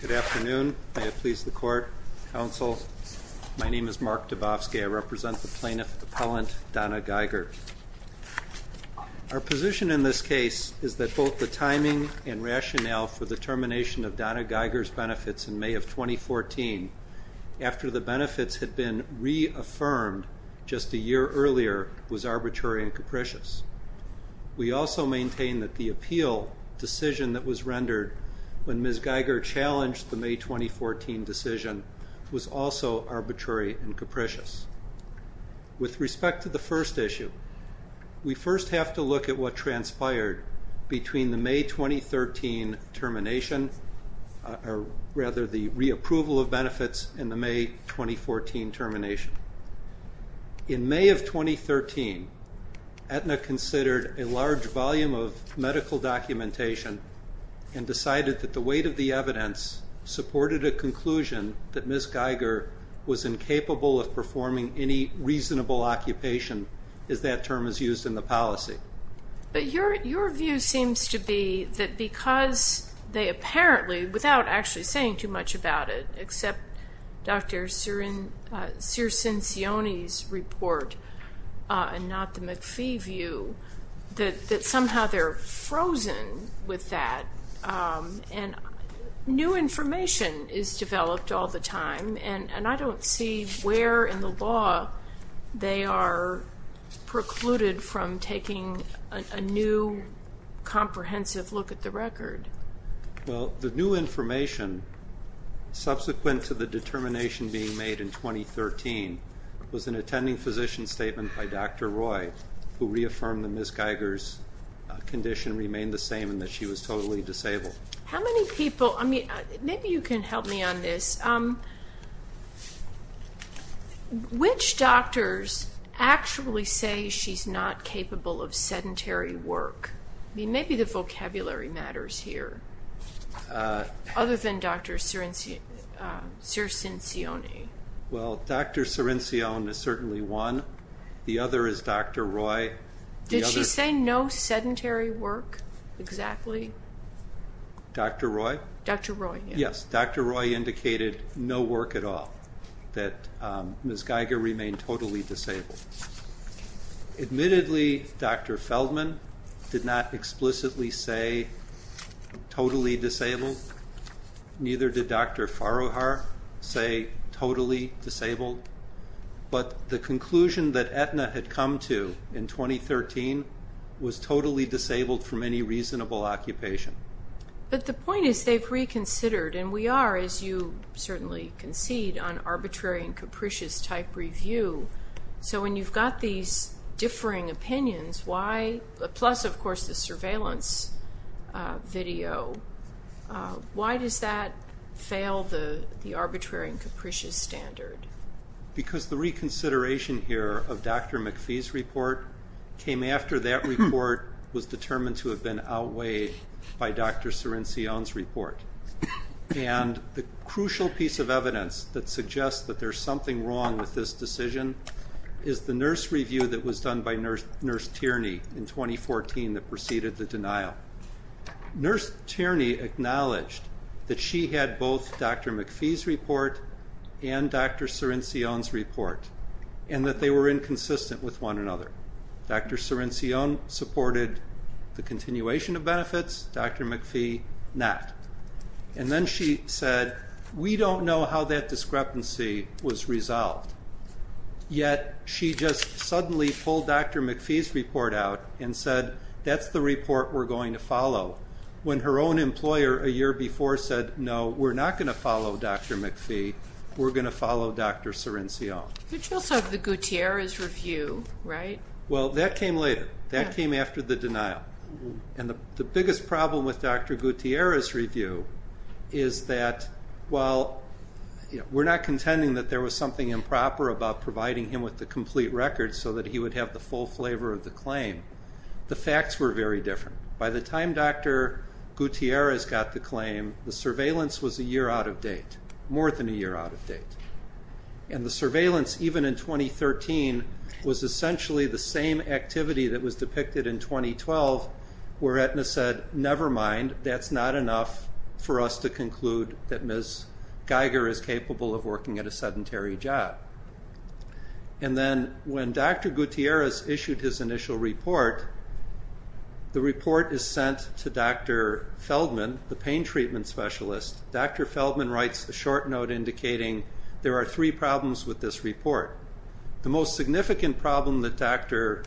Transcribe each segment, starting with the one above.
Good afternoon. May it please the court, counsel. My name is Mark Dabowski. I represent the plaintiff appellant Donna Geiger. Our position in this case is that both the timing and rationale for the termination of Donna Geiger's benefits in May of 2014, after the benefits had been reaffirmed just a year earlier, was arbitrary and capricious. We also maintain that the way in which Geiger challenged the May 2014 decision was also arbitrary and capricious. With respect to the first issue, we first have to look at what transpired between the May 2013 termination, or rather the reapproval of benefits and the May 2014 termination. In May of 2013, Aetna considered a large volume of medical documentation and decided that the weight of the evidence supported a conclusion that Ms. Geiger was incapable of performing any reasonable occupation, as that term is used in the policy. But your view seems to be that because they apparently, without actually saying too much about it, except Dr. Sircincione's report and not the McPhee view, that somehow they're frozen with that. And new information is developed all the time, and I don't see where in the law they are precluded from taking a new, comprehensive look at the record. Well, the new information subsequent to the determination being made in 2013 was an attending physician statement by Dr. Roy, who reaffirmed that Ms. Geiger's condition remained the same and that she was totally disabled. How many people, maybe you can help me on this, which doctors actually say she's not capable of sedentary work? Maybe the vocabulary matters here, other than Dr. Sircincione. Well, Dr. Sircincione is certainly one. The other is Dr. Roy. Did she say no sedentary work, exactly? Dr. Roy? Dr. Roy, yes. Yes, Dr. Roy indicated no work at all, that Ms. Geiger remained totally disabled. Admittedly, Dr. Feldman did not explicitly say totally disabled, neither did Dr. Farrohar say totally disabled, but the conclusion that Aetna had come to in 2013 was totally disabled from any reasonable occupation. But the point is they've reconsidered, and we are, as you certainly concede, on arbitrary and capricious type review, so when you've got these differing opinions, plus of course the surveillance video, why does that fail the arbitrary and capricious standard? Because the reconsideration here of Dr. McPhee's report came after that report was determined to have been outweighed by Dr. Sircincione's report, and the crucial piece of evidence that suggests that there's something wrong with this decision is the nurse review that was done by Nurse Tierney in 2014 that preceded the denial. Nurse Tierney acknowledged that she had both Dr. McPhee's report and Dr. Sircincione's report, and that they were inconsistent with one another. Dr. Sircincione supported the continuation of benefits, Dr. McPhee not. And then she said, we don't know how that discrepancy was resolved, yet she just suddenly pulled Dr. McPhee's report out and said, that's the report we're going to follow. When her own employer a year before said, no, we're not going to follow Dr. McPhee, we're going to follow Dr. Sircincione. Could you also have the Gutierrez review, right? Well, that came later. That came after the denial. And the biggest problem with Dr. Gutierrez's review is that, well, we're not contending that there was something improper about providing him with the complete record so that he would have the full flavor of the claim. The facts were very different. By the time Dr. Gutierrez got the claim, the surveillance was a year out of date, more than a year out of date. And the surveillance, even in 2013, was essentially the same activity that was depicted in 2012 where Aetna said, never mind, that's not enough for us to conclude that Ms. Geiger is capable of working at a sedentary job. And then when Dr. Gutierrez issued his initial report, the report is sent to Dr. Feldman, the pain treatment specialist. Dr. Feldman writes a short note indicating there are three problems with this report. The most significant problem that Dr.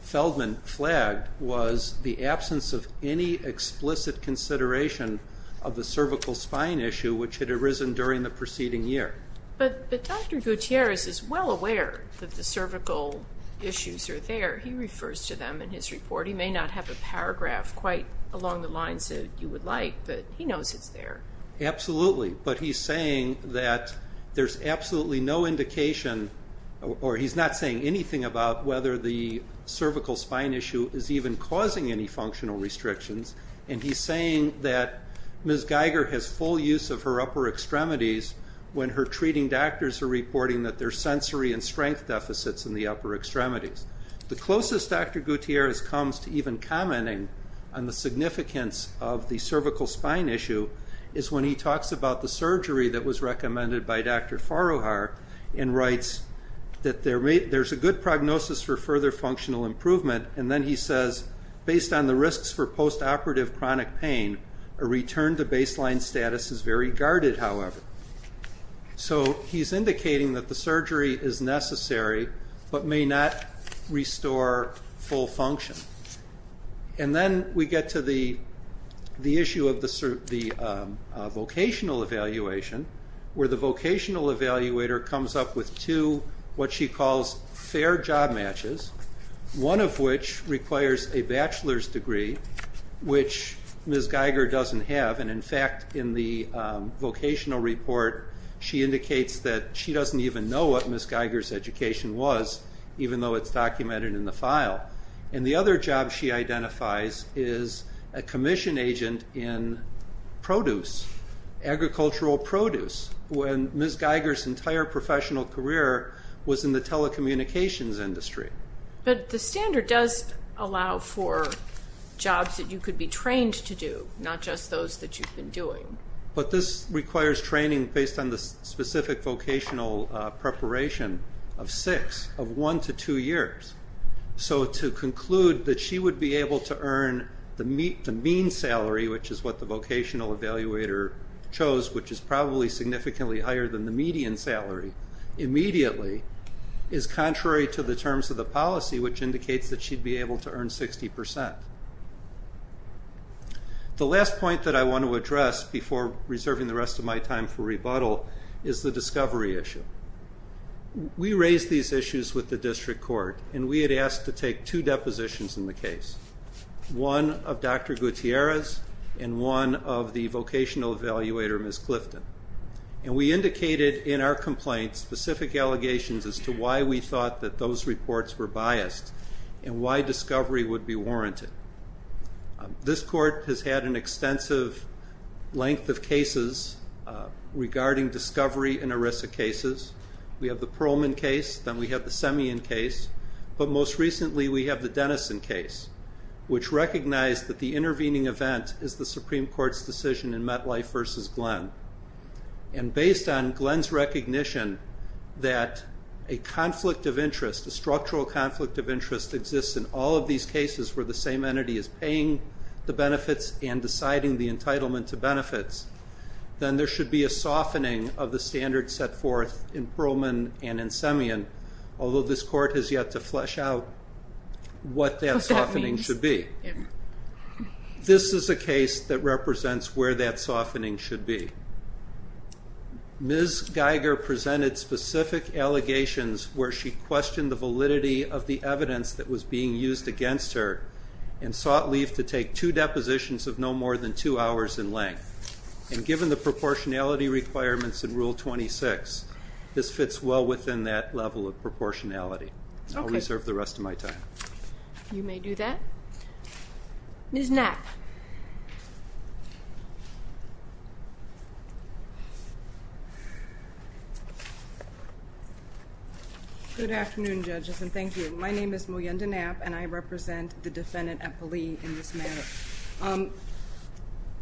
Feldman flagged was the absence of any explicit consideration of the cervical spine issue which had arisen during the preceding year. But Dr. Gutierrez is well aware that the cervical issues are there. He refers to them in his report. He may not have a paragraph quite along the lines that you would like, but he knows it's there. Absolutely. But he's saying that there's absolutely no indication, or he's not saying anything about whether the cervical spine issue is even causing any functional restrictions. And he's saying that Ms. Geiger has full use of her upper extremities when her treating doctors are reporting that there's sensory and strength deficits in the upper extremities. The closest Dr. Gutierrez comes to even commenting on the significance of the cervical spine issue is when he talks about the surgery that was recommended by Dr. Farouhar and writes that there's a good prognosis for further functional improvement. And then he says, based on the risks for post-operative chronic pain, a return to baseline status is very guarded, however. So he's indicating that the surgery is necessary but may not restore full function. And then we get to the issue of the vocational evaluation where the vocational evaluator comes up with two, what she calls, fair job matches, one of which requires a bachelor's degree, which Ms. Geiger doesn't have, and in fact, in the vocational report, she indicates that she doesn't even know what Ms. Geiger's education was, even though it's documented in the file. And the other job she identifies is a commission agent in produce, agricultural produce. When Ms. Geiger's entire professional career was in the telecommunications industry. But the standard does allow for jobs that you could be trained to do, not just those that you've been doing. But this requires training based on the specific vocational preparation of six, of one to two years. So to conclude that she would be able to earn the mean salary, which is what the vocational evaluator chose, which is probably significantly higher than the median salary, immediately is contrary to the terms of the policy, which indicates that she'd be able to earn 60%. The last point that I want to address before reserving the rest of my time for rebuttal is the discovery issue. We raised these issues with the district court and we had asked to take two depositions in the case. One of Dr. Gutierrez and one of the vocational evaluator, Ms. Clifton. And we indicated in our complaint specific allegations as to why we thought that those reports were biased and why discovery would be warranted. This court has had an extensive length of cases regarding discovery in ERISA cases. We have the Pearlman case, then we have the Semien case, but most recently we have the Glenn case, which recognized that the intervening event is the Supreme Court's decision in MetLife v. Glenn. And based on Glenn's recognition that a conflict of interest, a structural conflict of interest exists in all of these cases where the same entity is paying the benefits and deciding the entitlement to benefits, then there should be a softening of the standards set forth in Pearlman and in Semien, although this court has yet to flesh out what that softening is. Where that softening should be. This is a case that represents where that softening should be. Ms. Geiger presented specific allegations where she questioned the validity of the evidence that was being used against her and sought leave to take two depositions of no more than two hours in length. And given the proportionality requirements in Rule 26, this fits well within that level of proportionality. I'll reserve the rest of my time. You may do that. Ms. Knapp. Good afternoon, judges, and thank you. My name is Moyenda Knapp, and I represent the defendant, Epeli, in this matter.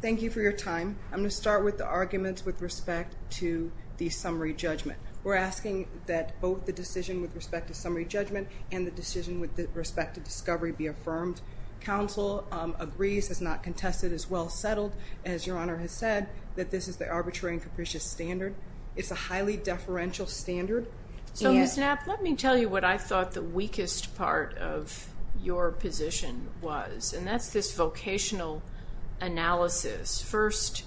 Thank you for your time. I'm going to start with the arguments with respect to the summary judgment. We're asking that both the decision with respect to summary judgment and the decision with respect to discovery be affirmed. Counsel agrees, has not contested, is well settled, as your Honor has said, that this is the arbitrary and capricious standard. It's a highly deferential standard. So, Ms. Knapp, let me tell you what I thought the weakest part of your position was, and that's this vocational analysis. First,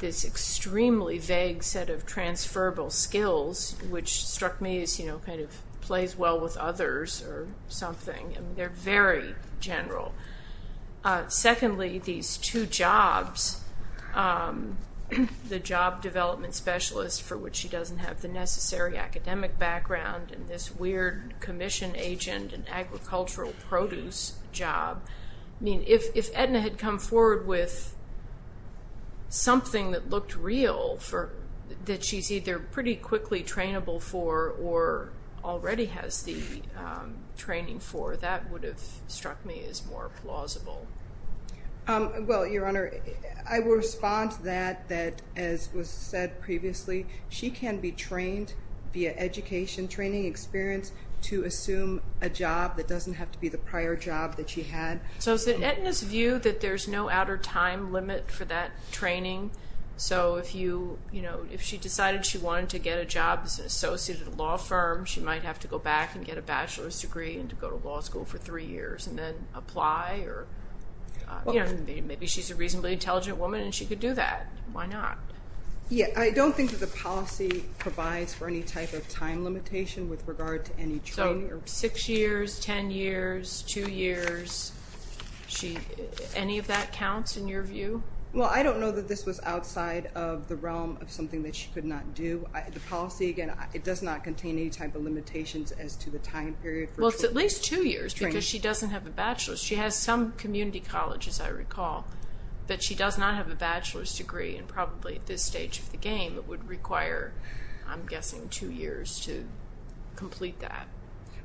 this extremely vague set of transferable skills, which struck me as, you know, kind of plays well with others or something. I mean, they're very general. Secondly, these two jobs, the job development specialist, for which she doesn't have the necessary academic background, and this weird commission agent and agricultural produce job. I mean, if Edna had come forward with something that looked real, that she's either pretty quickly trainable for or already has the training for, that would have struck me as more plausible. Well, your Honor, I will respond to that, that, as was said previously, she can be trained via education, training experience, to assume a job that doesn't have to be the prior job that she had. So, is it Edna's view that there's no outer time limit for that training? So if you, you know, if she decided she wanted to get a job as an associate at a law firm, she might have to go back and get a bachelor's degree and to go to law school for three years and then apply or, you know, maybe she's a reasonably intelligent woman and she could do that. Why not? Yeah, I don't think that the policy provides for any type of time limitation with regard to any training. So, six years, ten years, two years, any of that counts in your view? Well, I don't know that this was outside of the realm of something that she could not do. The policy, again, it does not contain any type of limitations as to the time period for training. Well, it's at least two years because she doesn't have a bachelor's. She has some community colleges, I recall, but she does not have a bachelor's degree and probably at this stage of the game it would require, I'm guessing, two years to complete that.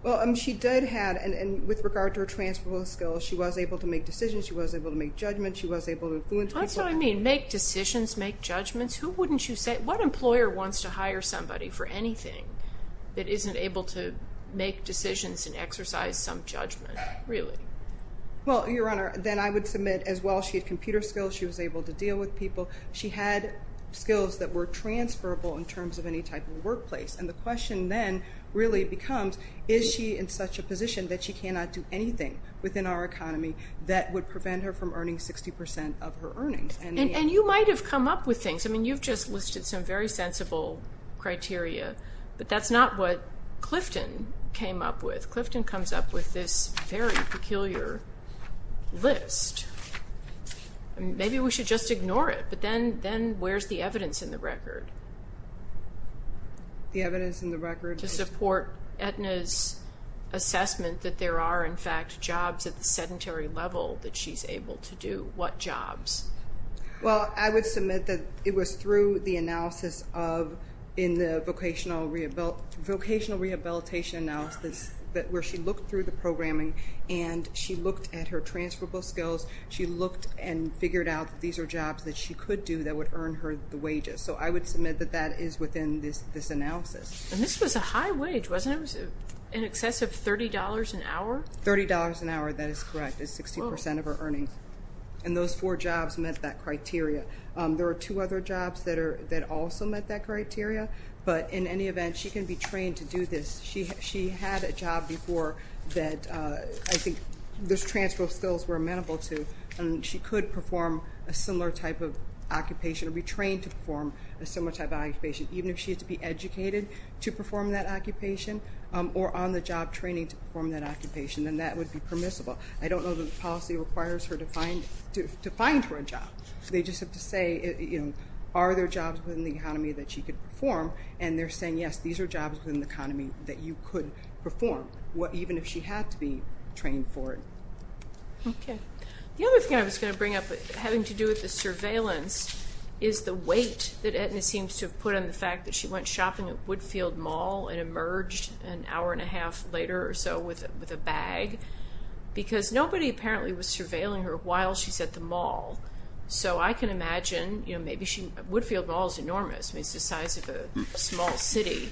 Well, she did have, and with regard to her transferable skills, she was able to make That's what I mean. Make decisions, make judgments. Who wouldn't you say, what employer wants to hire somebody for anything that isn't able to make decisions and exercise some judgment, really? Well, Your Honor, then I would submit as well she had computer skills, she was able to deal with people. She had skills that were transferable in terms of any type of workplace and the question then really becomes, is she in such a position that she cannot do anything within our economy that would prevent her from earning 60% of her earnings? And you might have come up with things. I mean, you've just listed some very sensible criteria, but that's not what Clifton came up with. Clifton comes up with this very peculiar list. Maybe we should just ignore it, but then where's the evidence in the record? The evidence in the record is... that she's able to do what jobs? Well, I would submit that it was through the analysis of, in the vocational rehabilitation analysis where she looked through the programming and she looked at her transferable skills. She looked and figured out that these are jobs that she could do that would earn her the wages. So I would submit that that is within this analysis. And this was a high wage, wasn't it? It was in excess of $30 an hour? $30 an hour. $30 an hour. That is correct. It's 60% of her earnings. And those four jobs met that criteria. There are two other jobs that also met that criteria, but in any event, she can be trained to do this. She had a job before that I think those transferable skills were amenable to, and she could perform a similar type of occupation or be trained to perform a similar type of occupation, even if she had to be educated to perform that occupation or on the job training to perform that occupation. And that would be permissible. I don't know that the policy requires her to find her a job. They just have to say, you know, are there jobs within the economy that she could perform? And they're saying, yes, these are jobs within the economy that you could perform, even if she had to be trained for it. Okay. The other thing I was going to bring up having to do with the surveillance is the weight that Etna seems to have put on the fact that she went shopping at Woodfield Mall and emerged an hour and a half later or so with a bag, because nobody apparently was surveilling her while she's at the mall. So I can imagine, you know, maybe she, Woodfield Mall is enormous, it's the size of a small city,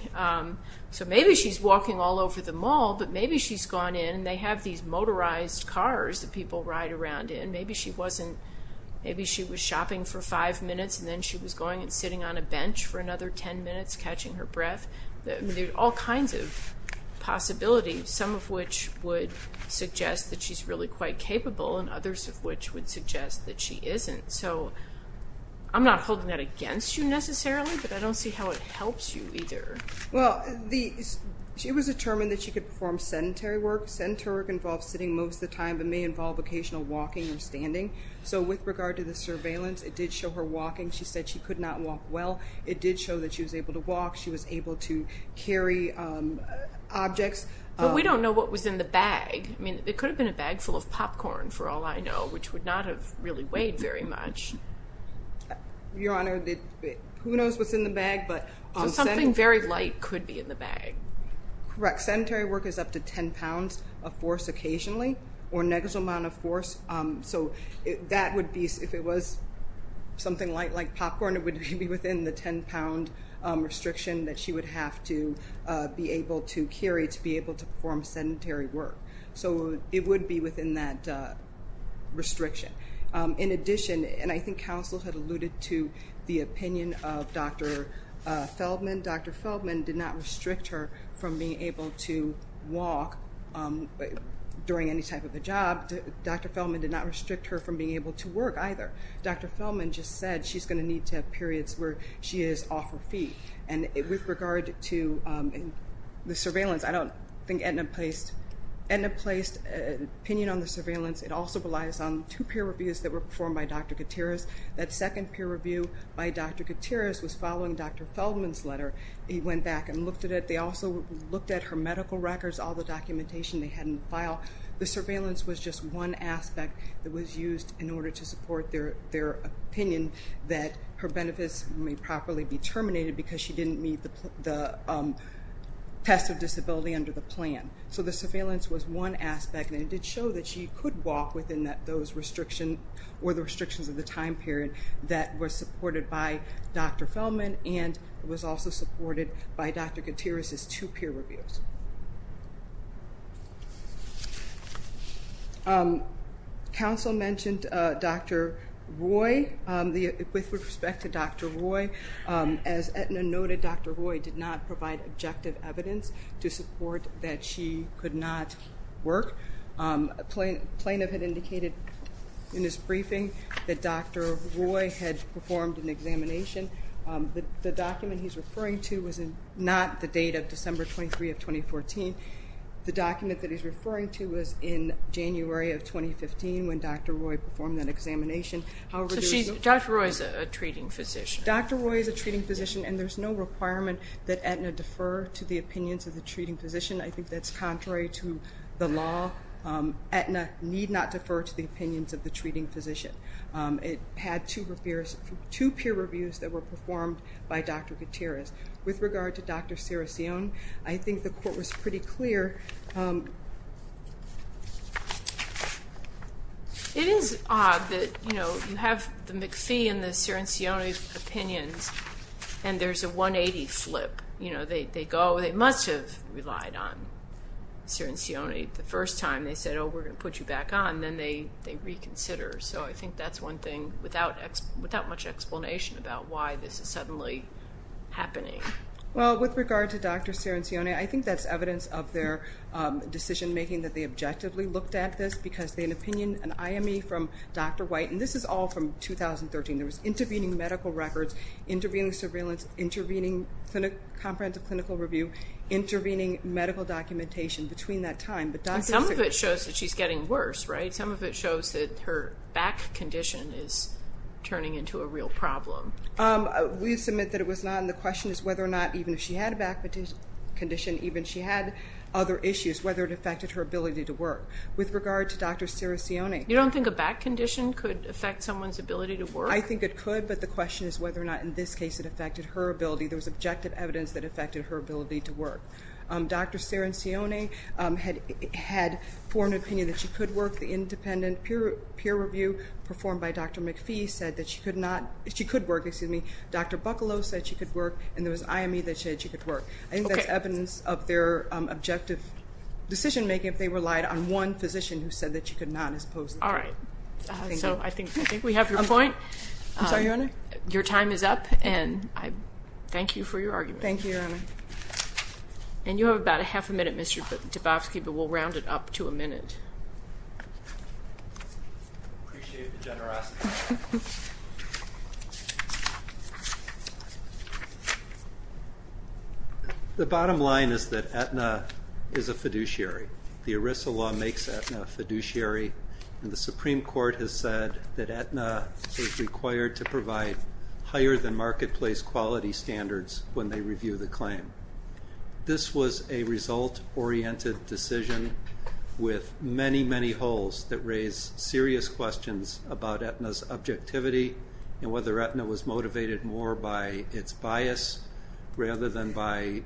so maybe she's walking all over the mall, but maybe she's gone in and they have these motorized cars that people ride around in, maybe she wasn't, maybe she was shopping for five minutes and then she was going and sitting on a bench for another ten minutes catching her breath. I mean, there's all kinds of possibilities, some of which would suggest that she's really quite capable and others of which would suggest that she isn't. So I'm not holding that against you necessarily, but I don't see how it helps you either. Well, the, she was determined that she could perform sedentary work, sedentary work involves sitting most of the time, but may involve occasional walking or standing. So with regard to the surveillance, it did show her walking. She said she could not walk well. It did show that she was able to walk. She was able to carry objects. But we don't know what was in the bag. I mean, it could have been a bag full of popcorn for all I know, which would not have really weighed very much. Your Honor, who knows what's in the bag, but on sedentary work. So something very light could be in the bag. Correct. Sedentary work is up to ten pounds of force occasionally or negative amount of force. So that would be, if it was something light like popcorn, it would be within the ten pound restriction that she would have to be able to carry to be able to perform sedentary work. So it would be within that restriction. In addition, and I think counsel had alluded to the opinion of Dr. Feldman, Dr. Feldman did not restrict her from being able to walk during any type of a job. Dr. Feldman did not restrict her from being able to work either. Dr. Feldman just said she's going to need to have periods where she is off her feet. And with regard to the surveillance, I don't think Edna placed an opinion on the surveillance. It also relies on two peer reviews that were performed by Dr. Gutierrez. That second peer review by Dr. Gutierrez was following Dr. Feldman's letter. He went back and looked at it. They also looked at her medical records, all the documentation they had in the file. The surveillance was just one aspect that was used in order to support their opinion that her benefits may properly be terminated because she didn't meet the test of disability under the plan. So the surveillance was one aspect, and it did show that she could walk within those restrictions or the restrictions of the time period that were supported by Dr. Feldman and was also supported by Dr. Gutierrez's two peer reviews. Counsel mentioned Dr. Roy, with respect to Dr. Roy, as Edna noted, Dr. Roy did not provide objective evidence to support that she could not work. A plaintiff had indicated in his briefing that Dr. Roy had performed an examination. The document he's referring to was not the date of December 23 of 2014. The document that he's referring to was in January of 2015 when Dr. Roy performed that examination. Dr. Roy is a treating physician. Dr. Roy is a treating physician, and there's no requirement that Edna defer to the opinions of the treating physician. I think that's contrary to the law. Edna need not defer to the opinions of the treating physician. It had two peer reviews that were performed by Dr. Gutierrez. With regard to Dr. Ciricione, I think the court was pretty clear. It is odd that, you know, you have the McPhee and the Ciricione's opinions, and there's a 180 flip. You know, they go, they must have relied on Ciricione the first time. They said, oh, we're going to put you back on, then they reconsider. So I think that's one thing without much explanation about why this is suddenly happening. Well, with regard to Dr. Ciricione, I think that's evidence of their decision making that they objectively looked at this because they had an opinion, an IME from Dr. White, and this is all from 2013. There was intervening medical records, intervening surveillance, intervening comprehensive clinical review, intervening medical documentation between that time. But Dr. Ciricione... Some of it shows that she's getting worse, right? Some of it shows that her back condition is turning into a real problem. We submit that it was not, and the question is whether or not, even if she had a back condition, even if she had other issues, whether it affected her ability to work. With regard to Dr. Ciricione... You don't think a back condition could affect someone's ability to work? I think it could, but the question is whether or not, in this case, it affected her ability. There was objective evidence that affected her ability to work. Dr. Ciricione had formed an opinion that she could work. The independent peer review performed by Dr. McPhee said that she could work. Dr. Buccalow said she could work, and there was IME that said she could work. I think that's evidence of their objective decision making if they relied on one physician who said that she could not, as opposed to... All right. Thank you. I think we have your point. I'm sorry, Your Honor? Your time is up, and I thank you for your argument. Thank you, Your Honor. And you have about a half a minute, Mr. DeBofsky, but we'll round it up to a minute. I appreciate the generosity. The bottom line is that Aetna is a fiduciary. The ERISA law makes Aetna a fiduciary, and the Supreme Court has said that Aetna is required to provide higher-than-marketplace quality standards when they review the claim. This was a result-oriented decision with many, many holes that raise serious questions about Aetna's objectivity and whether Aetna was motivated more by its bias rather than by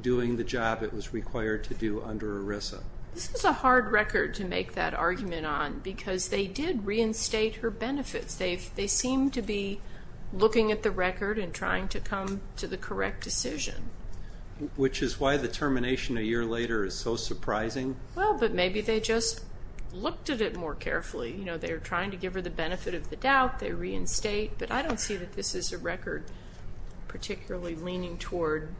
doing the job it was required to do under ERISA. This is a hard record to make that argument on because they did reinstate her benefits. They seem to be looking at the record and trying to come to the correct decision. Which is why the termination a year later is so surprising. Well, but maybe they just looked at it more carefully. They were trying to give her the benefit of the doubt. They reinstate, but I don't see that this is a record particularly leaning toward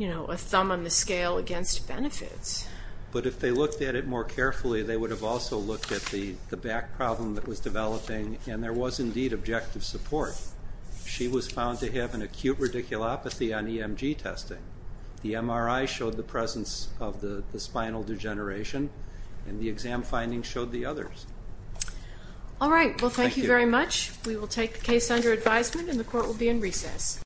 a thumb on the scale against benefits. But if they looked at it more carefully, they would have also looked at the back problem that was developing, and there was indeed objective support. She was found to have an acute radiculopathy on EMG testing. The MRI showed the presence of the spinal degeneration, and the exam findings showed the others. All right. Well, thank you very much. We will take the case under advisement, and the Court will be in recess.